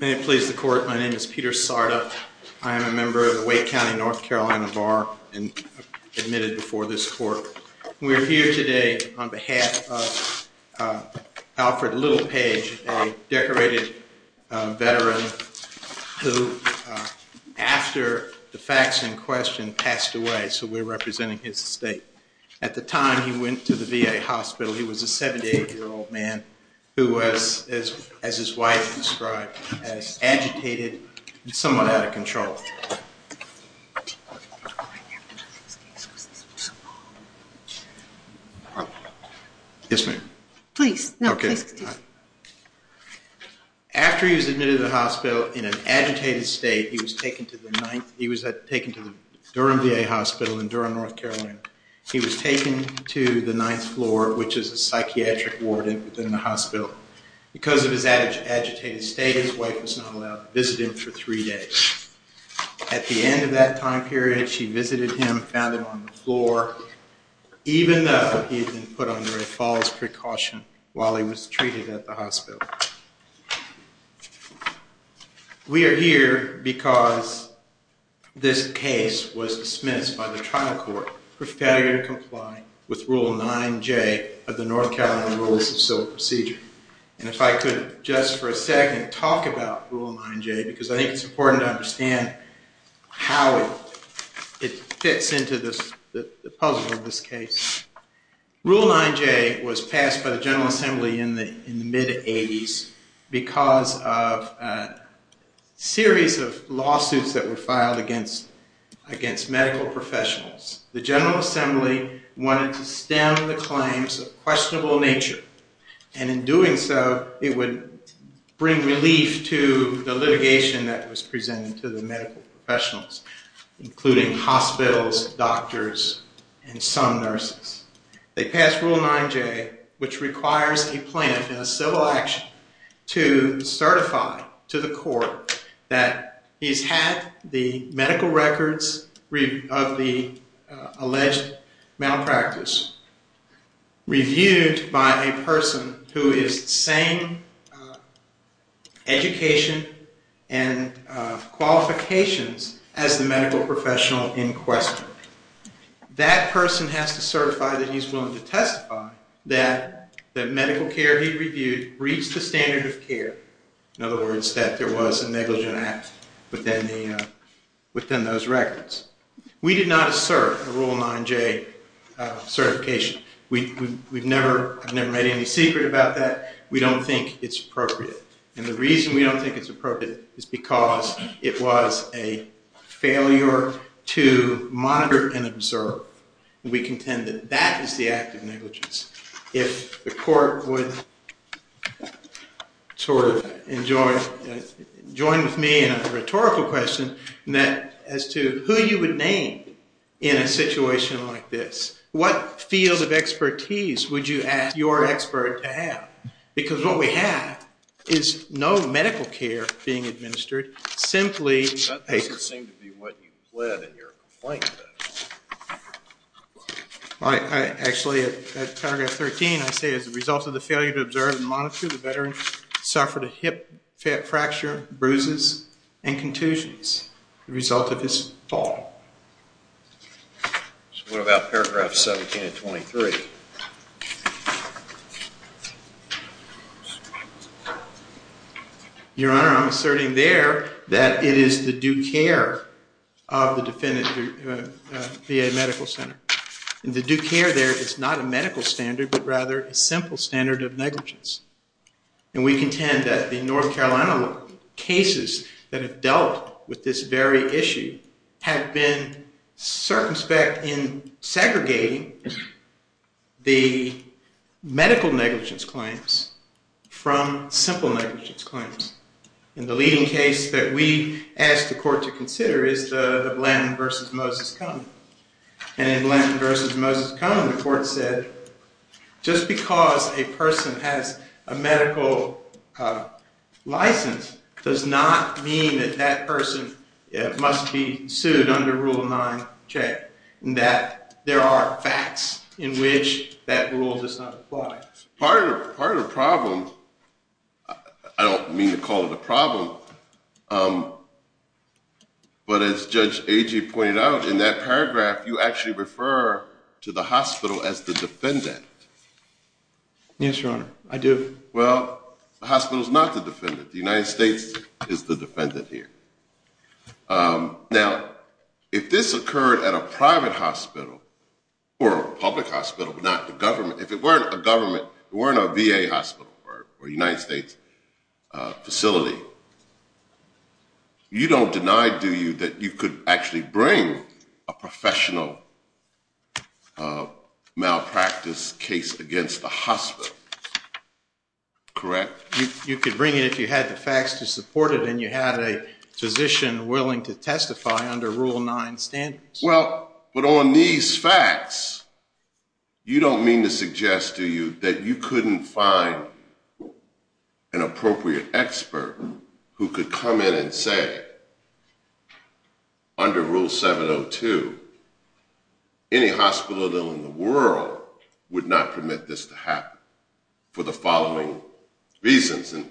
May it please the court. My name is Peter Sardot. I am a member of the Wake County, North Carolina Bar and Admitted before this court. We're here today on behalf of Alfred Littlepage, a decorated veteran who After the facts in question passed away, so we're representing his estate. At the time he went to the VA hospital He was a 78 year old man who was as his wife described Agitated and somewhat out of control Yes, ma'am, please After he was admitted to the hospital in an agitated state he was taken to the ninth He was that taken to the Durham VA Hospital in Durham, North Carolina He was taken to the ninth floor, which is a psychiatric ward in the hospital Because of his agitated state his wife was not allowed to visit him for three days At the end of that time period she visited him found him on the floor Even though he had been put under a false precaution while he was treated at the hospital We are here because This case was dismissed by the trial court for failure to comply with rule 9j of the North Carolina Rules of Civil Procedure And if I could just for a second talk about rule 9j because I think it's important to understand how it Fits into this the puzzle of this case rule 9j was passed by the General Assembly in the in the mid 80s because of Series of lawsuits that were filed against against medical professionals the General Assembly Wanted to stem the claims of questionable nature and in doing so it would Bring relief to the litigation that was presented to the medical professionals including hospitals doctors and some nurses They passed rule 9j which requires a plan in a civil action to Certify to the court that he's had the medical records of the Alleged malpractice Reviewed by a person who is the same Education and Qualifications as the medical professional in question That person has to certify that he's willing to testify that That medical care he reviewed reached the standard of care in other words that there was a negligent act, but then Within those records we did not assert a rule 9j Certification we we've never never made any secret about that we don't think it's appropriate and the reason we don't think it's appropriate is because it was a failure to Monitor and observe we contend that that is the act of negligence if the court would Sort of enjoy Join with me in a rhetorical question and that as to who you would name in a situation like this What field of expertise would you ask your expert to have because what we have is no medical care being administered simply All right actually at paragraph 13 I say as a result of the failure to observe and monitor the veteran suffered a hip fat fracture bruises and contusions the result of this fall What about paragraph 17 and 23 Your honor I'm asserting there that it is the due care of the defendant Be a medical center and the due care there is not a medical standard, but rather a simple standard of negligence And we contend that the North Carolina cases that have dealt with this very issue have been circumspect in segregating the medical negligence claims from simple negligence claims In the leading case that we asked the court to consider is the Blanton vs. Moses Cone and in Blanton vs. Moses Cone the court said Just because a person has a medical License does not mean that that person Must be sued under Rule 9 check and that there are facts in which that rule does not apply part of part of the problem I Don't mean to call it a problem But as Judge Agee pointed out in that paragraph you actually refer to the hospital as the defendant Yes, your honor. I do well the hospital is not the defendant the United States is the defendant here Now if this occurred at a private hospital Or a public hospital, but not the government if it weren't a government weren't a VA hospital or United States facility You don't deny do you that you could actually bring a professional Malpractice case against the hospital Correct you could bring it if you had the facts to support it and you had a Physician willing to testify under Rule 9 standards. Well, but on these facts You don't mean to suggest to you that you couldn't find An appropriate expert who could come in and say Under Rule 702 Any hospital in the world would not permit this to happen for the following? reasons and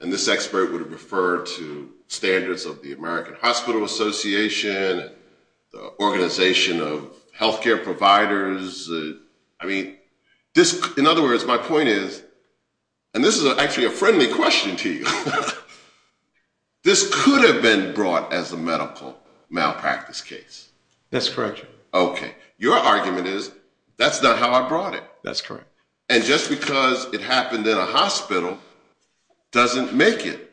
and this expert would have referred to standards of the American Hospital Association the organization of health care providers I mean this in other words my point is And this is actually a friendly question to you This could have been brought as a medical malpractice case. That's correct Okay, your argument is that's not how I brought it. That's correct. And just because it happened in a hospital Doesn't make it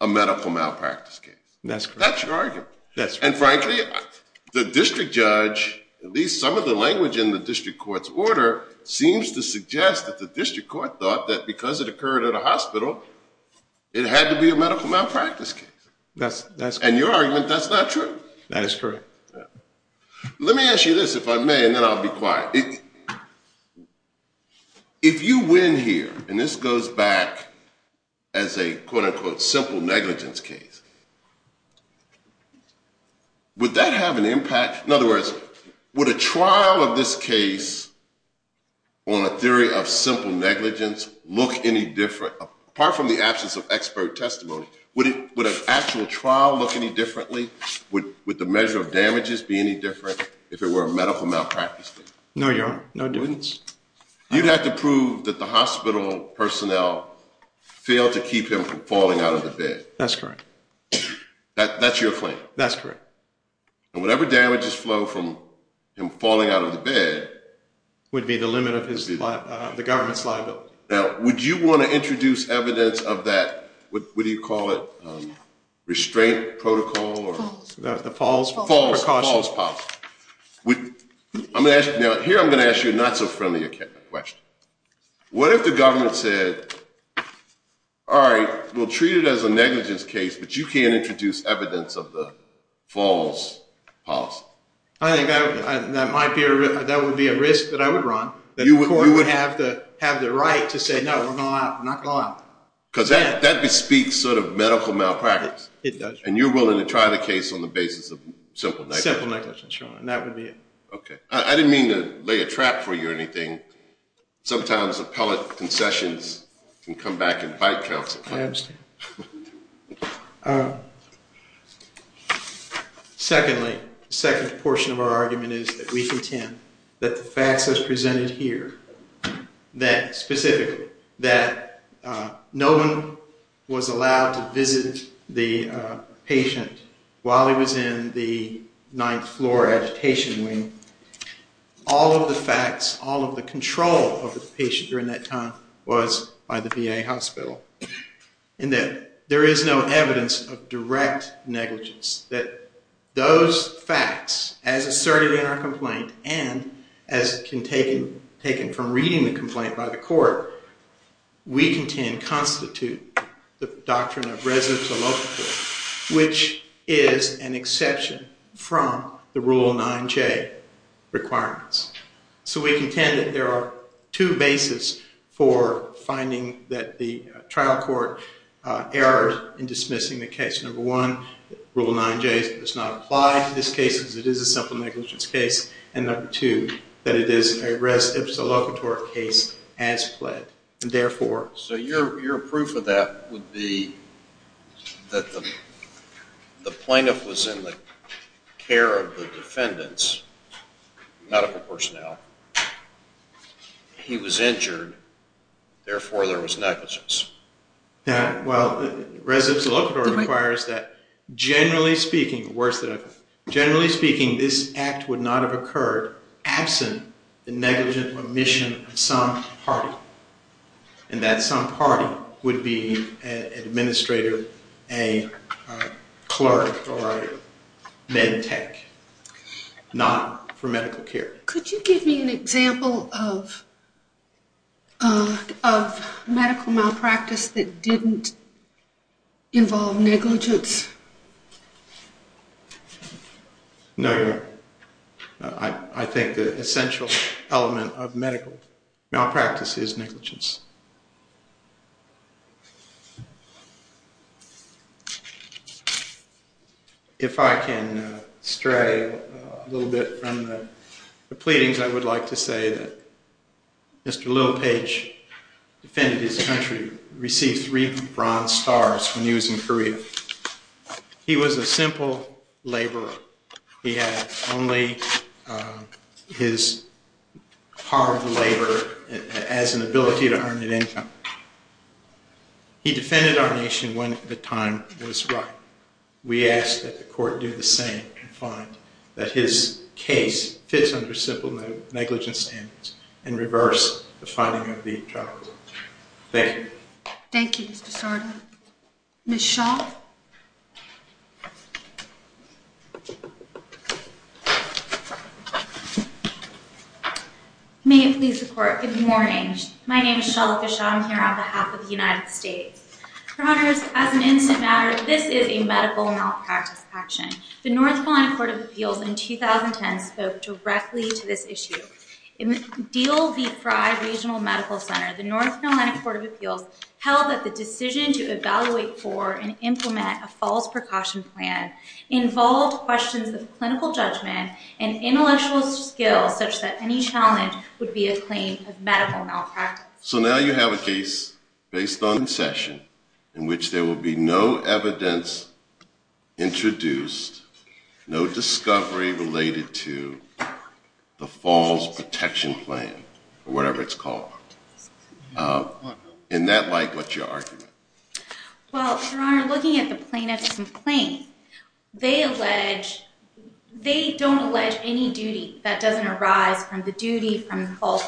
a medical malpractice case. That's that's your argument. Yes, and frankly the district judge At least some of the language in the district courts order seems to suggest that the district court thought that because it occurred at a hospital It had to be a medical malpractice case. That's that's and your argument. That's not true. That is true Let me ask you this if I may and then I'll be quiet If you win here and this goes back as a quote-unquote simple negligence case Would That have an impact in other words would a trial of this case On a theory of simple negligence look any different apart from the absence of expert testimony Would it would an actual trial look any differently would with the measure of damages be any different if it were a medical malpractice? No, you're no difference. You'd have to prove that the hospital personnel Failed to keep him from falling out of the bed, that's correct That's your point. That's correct And whatever damages flow from him falling out of the bed Would be the limit of his life the government's liability. Now. Would you want to introduce evidence of that? What do you call it? restraint protocol or the falls falls falls pop With I'm gonna ask you now here. I'm gonna ask you not so friendly a question What if the government said? All right, we'll treat it as a negligence case, but you can't introduce evidence of the falls policy, I think That would be a risk that I would run that you would have to have the right to say no We're not not gone Because that bespeaks sort of medical malpractice it does and you're willing to try the case on the basis of simple simple negligence Sure, and that would be it. Okay. I didn't mean to lay a trap for you or anything Sometimes appellate concessions can come back and bite counsel Secondly second portion of our argument is that we contend that the facts as presented here that specifically that no one was allowed to visit the Patient while he was in the ninth floor agitation wing All of the facts all of the control of the patient during that time was by the VA Hospital And then there is no evidence of direct negligence that Those facts as asserted in our complaint and as can taken taken from reading the complaint by the court We contend constitute the doctrine of residents of local Which is an exception from the rule 9j? Requirements, so we contend that there are two basis for finding that the trial court Errors in dismissing the case number one rule 9j does not apply to this case as it is a simple negligence case and number Two that it is a rest if it's a locator case as pled and therefore so your proof of that would be that the The plaintiff was in the care of the defendants medical personnel He was injured Therefore there was negligence Yeah, well residents of local requires that Generally speaking worse that I've generally speaking this act would not have occurred absent the negligent omission of some party and that some party would be administrator a clerk or med tech Not for medical care, could you give me an example of? Medical malpractice that didn't involve negligence No, I think the essential element of medical malpractice is negligence If I can stray a little bit from the pleadings I would like to say that Mr.. Little page Defended his country received three bronze stars when he was in Korea He was a simple laborer. He had only Hard labor as an ability to earn his living He Defended our nation when the time was right We asked that the court do the same and find that his case fits under simple negligence and and reverse the finding of the Thank you. Thank you Miss Shaw I May it please the court. Good morning. My name is Shalva Sean here on behalf of the United States Runners as an instant matter. This is a medical malpractice action the North Carolina Court of Appeals in 2010 spoke directly to this issue in deal the fry Regional Medical Center the North Carolina Court of Appeals Held that the decision to evaluate for and implement a false precaution plan involved questions of clinical judgment and Intellectual skills such that any challenge would be a claim of medical malpractice So now you have a case based on session in which there will be no evidence introduced no discovery related to The Falls protection plan or whatever it's called In that light what your argument well, we're looking at the plaintiff's complaint they allege They don't allege any duty that doesn't arise from the duty from the false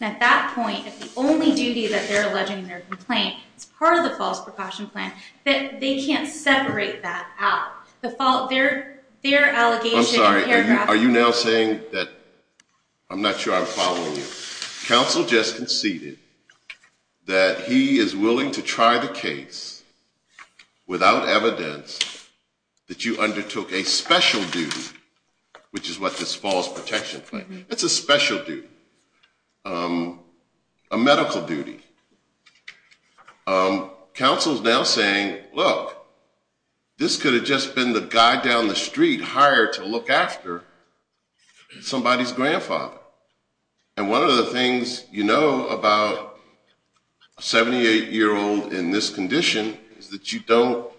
And at that point the only duty that they're alleging their complaint It's part of the false precaution plan that they can't separate that out the fault. They're they're Are you now saying that? I'm not sure I'm following counsel just conceded that He is willing to try the case without evidence That you undertook a special duty Which is what this falls protection plan. It's a special duty a medical duty Counsel's now saying look this could have just been the guy down the street hired to look after Somebody's grandfather and one of the things you know about 78 year old in this condition is that you don't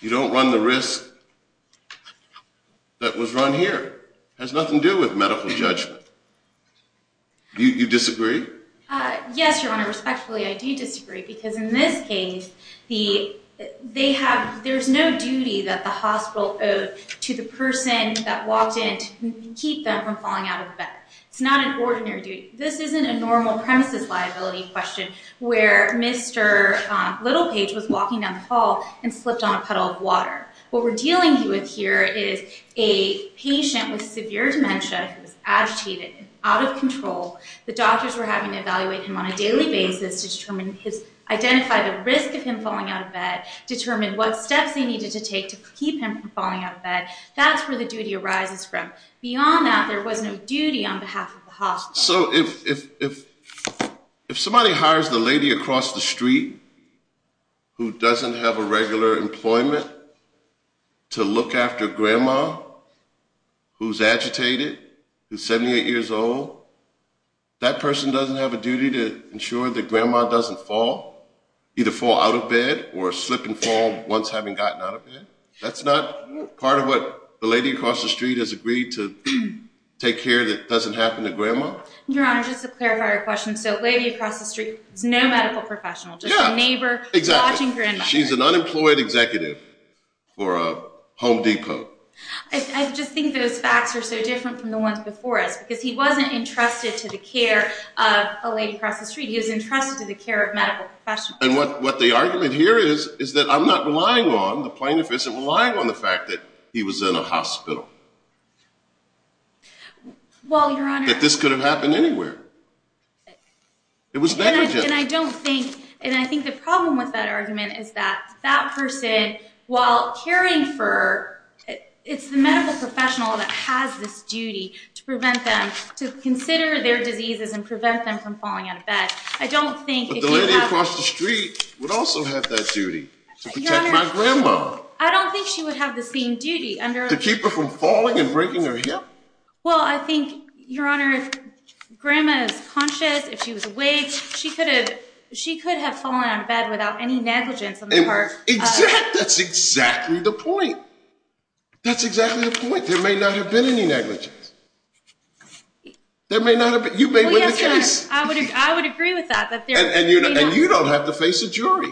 You don't run the risk That was run here has nothing to do with medical judgment You disagree Yes, your honor respectfully. I do disagree because in this case the They have there's no duty that the hospital owed to the person that walked in to keep them from falling out of bed It's not an ordinary duty. This isn't a normal premises liability question where mr. Little page was walking down the hall and slipped on a puddle of water what we're dealing with here is a patient with severe dementia Agitated out of control the doctors were having to evaluate him on a daily basis to determine his Identify the risk of him falling out of bed determine what steps they needed to take to keep him from falling out of bed That's where the duty arises from beyond that. There was no duty on behalf of the hospital. So if If somebody hires the lady across the street Who doesn't have a regular employment? to look after grandma Who's agitated who's 78 years old? That person doesn't have a duty to ensure that grandma doesn't fall Either fall out of bed or slip and fall once having gotten out of bed That's not part of what the lady across the street has agreed to Take care that doesn't happen to grandma She's an unemployed executive for a Home Depot Because he wasn't entrusted to the care of a lady across the street he was entrusted to the care of medical professionals What the argument here is is that I'm not relying on the plaintiff isn't relying on the fact that he was in a hospital Well, this could have happened anywhere It was and I don't think and I think the problem with that argument is that that person while caring for It's the medical professional that has this duty to prevent them to consider their diseases and prevent them from falling out of bed I don't think the lady across the street would also have that duty I don't think she would have the same duty under to keep her from falling and breaking her hip. Well, I think your honor Grandma's conscious if she was awake, she could have she could have fallen out of bed without any negligence That's exactly the point That's exactly the point. There may not have been any negligence There may not have been you may win the case I would agree with that and you don't have to face a jury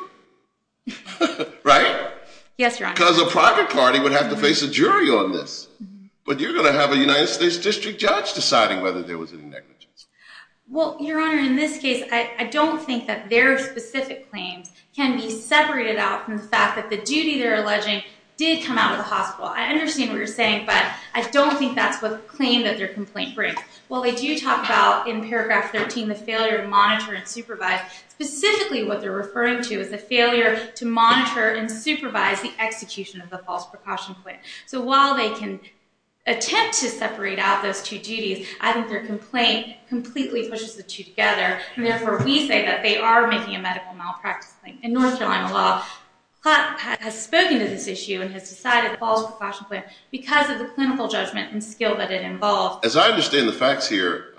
Right. Yes, your honor because a private party would have to face a jury on this But you're gonna have a United States District Judge deciding whether there was any negligence Well, your honor in this case I don't think that their specific claims can be separated out from the fact that the duty they're alleging did come out of the hospital I understand what you're saying But I don't think that's what the claim that their complaint break Well, they do talk about in paragraph 13 the failure to monitor and supervise Specifically what they're referring to is the failure to monitor and supervise the execution of the false precaution plan So while they can Attempt to separate out those two duties. I think their complaint completely pushes the two together And therefore we say that they are making a medical malpractice thing in North Carolina law Has spoken to this issue and has decided false precaution plan because of the clinical judgment and skill that it involved as I understand the facts here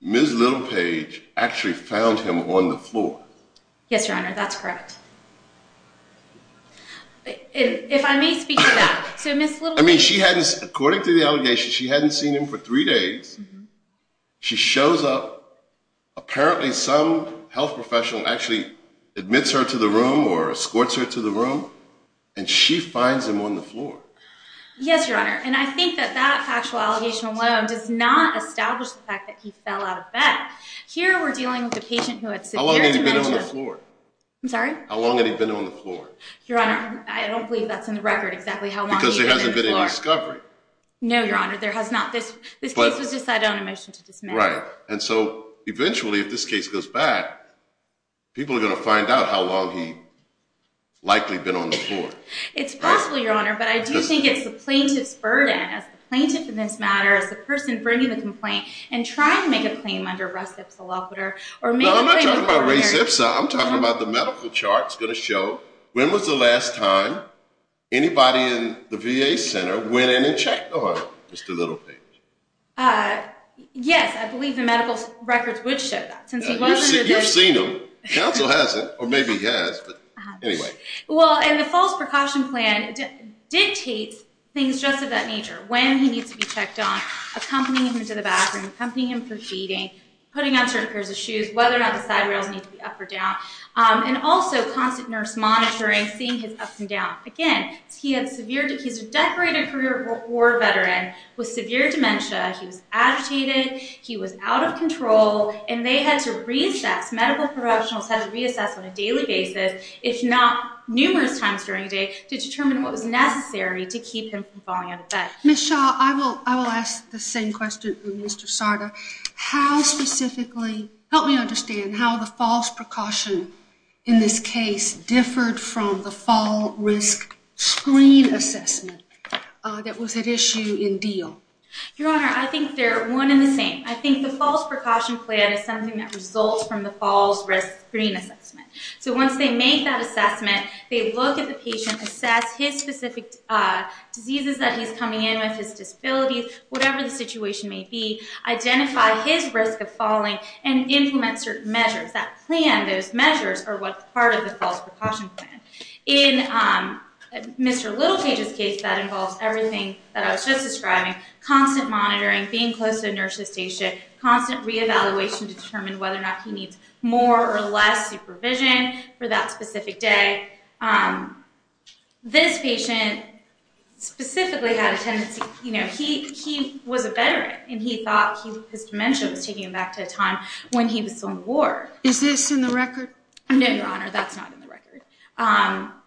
Ms. Little page actually found him on the floor. Yes, your honor. That's correct If I may speak to that so miss little I mean she hadn't according to the allegation she hadn't seen him for three days She shows up Apparently some health professional actually admits her to the room or escorts her to the room and she finds him on the floor Yes, your honor, and I think that that factual allegation alone does not establish the fact that he fell out of bed Here we're dealing with a patient who had so long I'm sorry, how long had he been on the floor your honor? I don't believe that's in the record exactly how long because there hasn't been a discovery No, your honor. There has not this Is right and so eventually if this case goes back People are going to find out how long he Likely been on the floor. It's possible your honor but I just think it's the plaintiff's burden as plaintiff in this matter as the person bringing the complaint and trying to make a claim under rest of the law puter or I'm talking about the medical charts gonna show when was the last time Anybody in the VA Center went in and checked on mr. Little page Yes, I believe the medical records would show that since you've seen him council hasn't or maybe he has Well and the false precaution plan Dictates things just of that nature when he needs to be checked on Accompanying him to the bathroom company him for feeding putting on certain pairs of shoes whether or not the side rails need to be up or down And also constant nurse monitoring seeing his ups and downs again He had severed. He's a decorated career war veteran with severe dementia. He was agitated He was out of control and they had to reassess medical professionals had to reassess on a daily basis It's not numerous times during a day to determine what was necessary to keep him from falling out of bed. Miss Shaw I will I will ask the same question. Mr. Sardar how Specifically help me understand how the false precaution in this case differed from the fall risk screen assessment That was an issue in deal your honor. I think they're one in the same I think the false precaution plan is something that results from the falls risk green assessment So once they make that assessment, they look at the patient assess his specific Diseases that he's coming in with his disabilities, whatever the situation may be identify his risk of falling and implement certain measures that plan those measures are what part of the false precaution plan in Mr. Little cages case that involves everything that I was just describing Constant monitoring being close to a nurse's station constant re-evaluation determine whether or not he needs more or less supervision for that specific day This patient Specifically had a tendency, you know He he was a veteran and he thought his dementia was taking him back to a time when he was some war Is this in the record? No, your honor. That's not in the record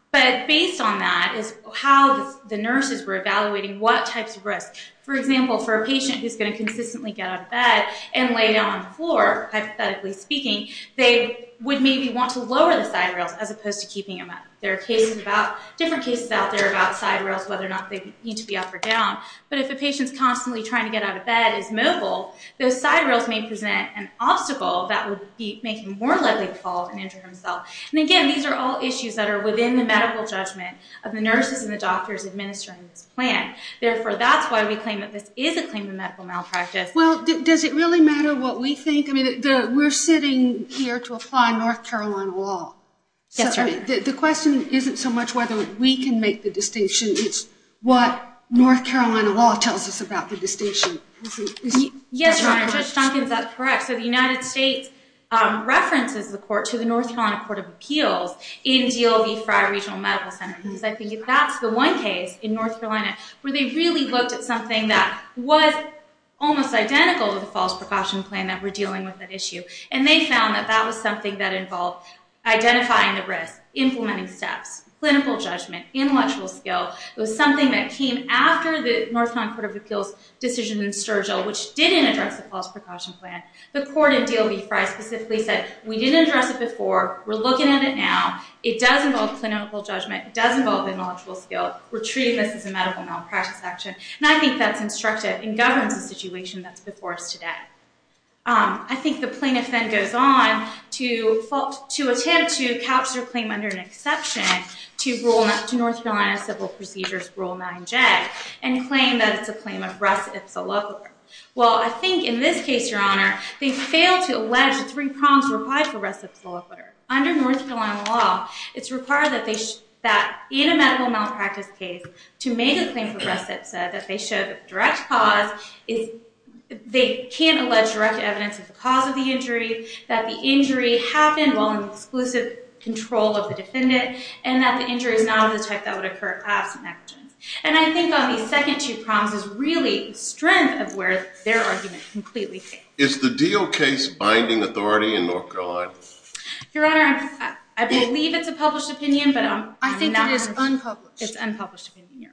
But based on that is how the nurses were evaluating what types of risk for example for a patient who's going to consistently get Out of bed and lay down on the floor Hypothetically speaking they would maybe want to lower the side rails as opposed to keeping him up There are cases about different cases out there about side rails whether or not they need to be up or down But if the patient's constantly trying to get out of bed is mobile Those side rails may present an obstacle that would be making more likely to fall and injure himself And again, these are all issues that are within the medical judgment of the nurses and the doctors administering this plan Therefore that's why we claim that this is a claim to medical malpractice. Well, does it really matter what we think? I mean, we're sitting here to apply North Carolina law Yes, sir. The question isn't so much whether we can make the distinction. It's what North Carolina law tells us about the distinction Yes, I think that's correct. So the United States References the court to the North Carolina Court of Appeals in DLB Frye Regional Medical Center Because I think if that's the one case in North Carolina where they really looked at something that was Almost identical to the false precaution plan that we're dealing with that issue and they found that that was something that involved Identifying the risk implementing steps clinical judgment intellectual skill It was something that came after the North Carolina Court of Appeals Decision in Sturgill which didn't address the false precaution plan the court in DLB Frye specifically said we didn't address it before We're looking at it now. It doesn't involve clinical judgment doesn't involve intellectual skill We're treating this as a medical malpractice action. And I think that's instructive and governs a situation that's before us today I think the plaintiff then goes on to fault to attempt to couch their claim under an exception To rule not to North Carolina civil procedures rule 9j and claim that it's a claim of rest It's a love well, I think in this case your honor They failed to allege the three problems required for rest of the law under North Carolina law It's required that they should that in a medical malpractice case to make a claim for rest It said that they should direct cause is They can't allege direct evidence of the cause of the injury that the injury happened while an exclusive Control of the defendant and that the injury is not of the type that would occur And I think on the second two problems is really strength of where their argument completely is the deal case binding authority in North Carolina Your honor. I believe it's a published opinion, but I think it is unpublished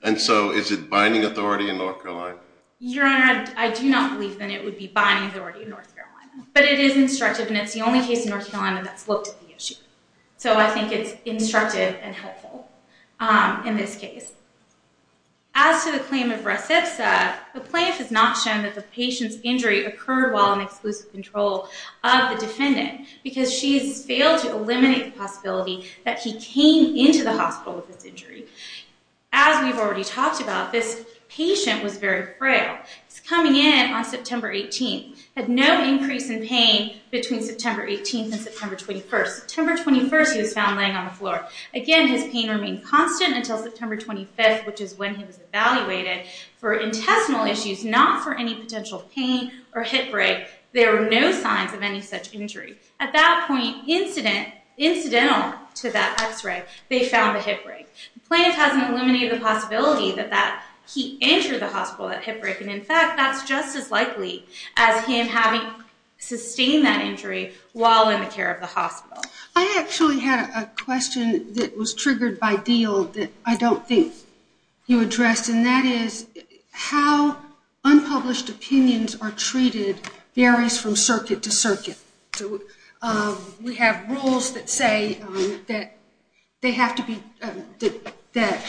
And so is it binding authority in North Carolina your honor? I do not believe that it would be binding authority in North Carolina, but it is instructive And it's the only case in North Carolina that's looked at the issue. So I think it's instructive and helpful in this case As to the claim of recip said the plaintiff has not shown that the patient's injury occurred while an exclusive control of the defendant because she's failed to eliminate the possibility that he came into the hospital with this injury as We've already talked about this patient was very frail It's coming in on September 18th had no increase in pain between September 18th and September 21st September 21st he was found laying on the floor again his pain remained constant until September 25th Which is when he was evaluated for intestinal issues not for any potential pain or hip break There were no signs of any such injury at that point incident Incidental to that x-ray they found the hip break Plaintiff hasn't eliminated the possibility that that he entered the hospital at hip break and in fact, that's just as likely as him having Sustained that injury while in the care of the hospital I actually had a question that was triggered by deal that I don't think you addressed and that is how Unpublished opinions are treated varies from circuit to circuit So we have rules that say that they have to be that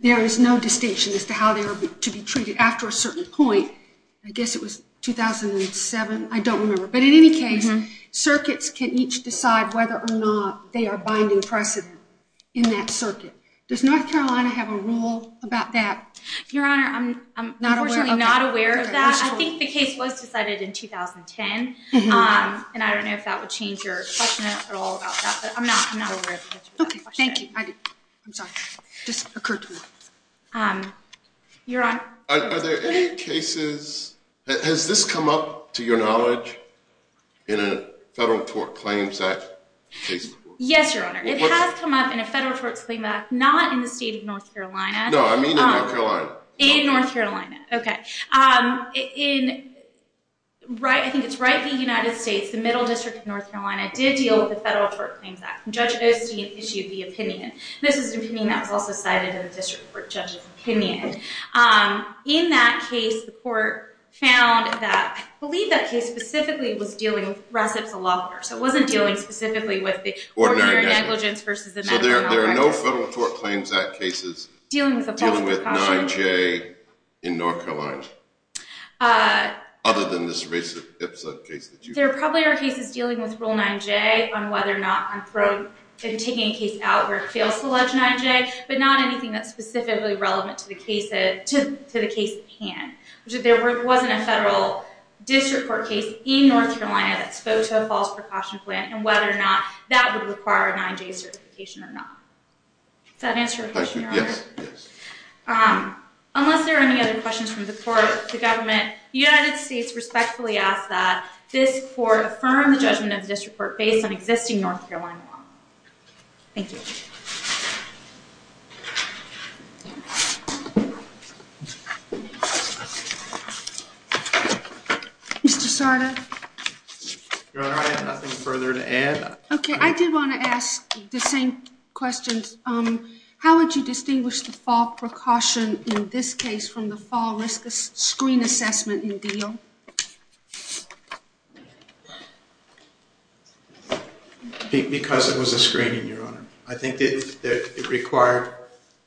There is no distinction as to how they were to be treated after a certain point I guess it was 2007 I don't remember but in any case Circuits can each decide whether or not they are binding precedent in that circuit does North Carolina have a rule about that Your honor. I'm not not aware of that I think the case was decided in 2010 And I don't know if that would change your question at all Thank you You're on Has this come up to your knowledge in a federal court claims that Yes, your honor. It has come up in a federal courts claim back not in the state of North Carolina No, I mean in North Carolina, okay In Right, I think it's right the United States the Middle District of North Carolina did deal with the federal court claims that judge Osteen issued the opinion. This is an opinion that was also cited in the district court judges opinion In that case the court found that believe that case specifically was dealing with recipes a lot more So it wasn't dealing specifically with the ordinary negligence versus there. There are no federal court claims that cases dealing with a Other than this race episode case that you there probably are cases dealing with rule 9j on whether or not I'm thrown Taking a case out where it fails to ledge 9j But not anything that's specifically relevant to the case it to the case pan which if there were it wasn't a federal District court case in North Carolina that spoke to a false precaution plan and whether or not that would require a 9j certification or not That answer Yes Unless there are any other questions from the court the government The United States respectfully ask that this for the firm the judgment of this report based on existing, North Carolina Thank you Mr. Sarda All right nothing further to add okay, I did want to ask the same questions How would you distinguish the fall precaution in this case from the fall risk of screen assessment in deal? Because it was a screening your honor. I think it required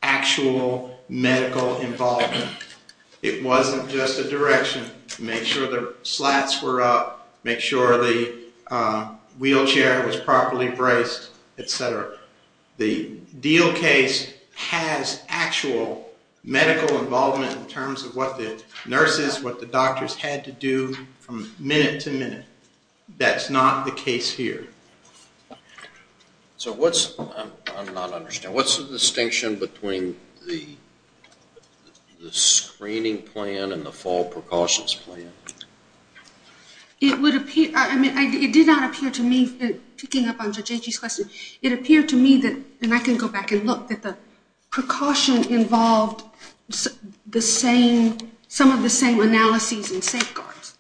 actual Medical involvement it wasn't just a direction to make sure the slats were up make sure the Wheelchair was properly braced, etc. The deal case has actual Medical involvement in terms of what the nurses what the doctors had to do from minute to minute That's not the case here So what's I'm not understand. What's the distinction between the the screening plan and the fall precautions plan It would appear I mean it did not appear to me picking up on JJ's question It appeared to me that and I can go back and look at the precaution involved the same some of the same analyses and safeguards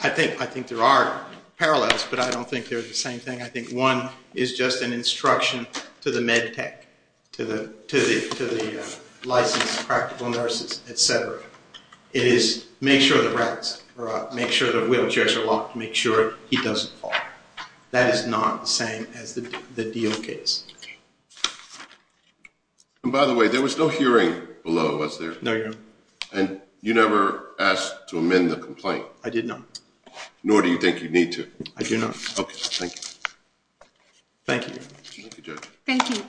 I Think I think there are parallels, but I don't think there's the same thing I think one is just an instruction to the med tech to the to the Licensed practical nurses, etc. It is make sure the rats or make sure the wheelchairs are locked to make sure he doesn't fall That is not the same as the deal case And by the way, there was no hearing below was there no you and you never asked to amend the complaint I did no Nor do you think you need to I do not Thank you Thank you,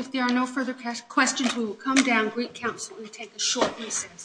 if there are no further questions, we will come down Greek Council and take a short recess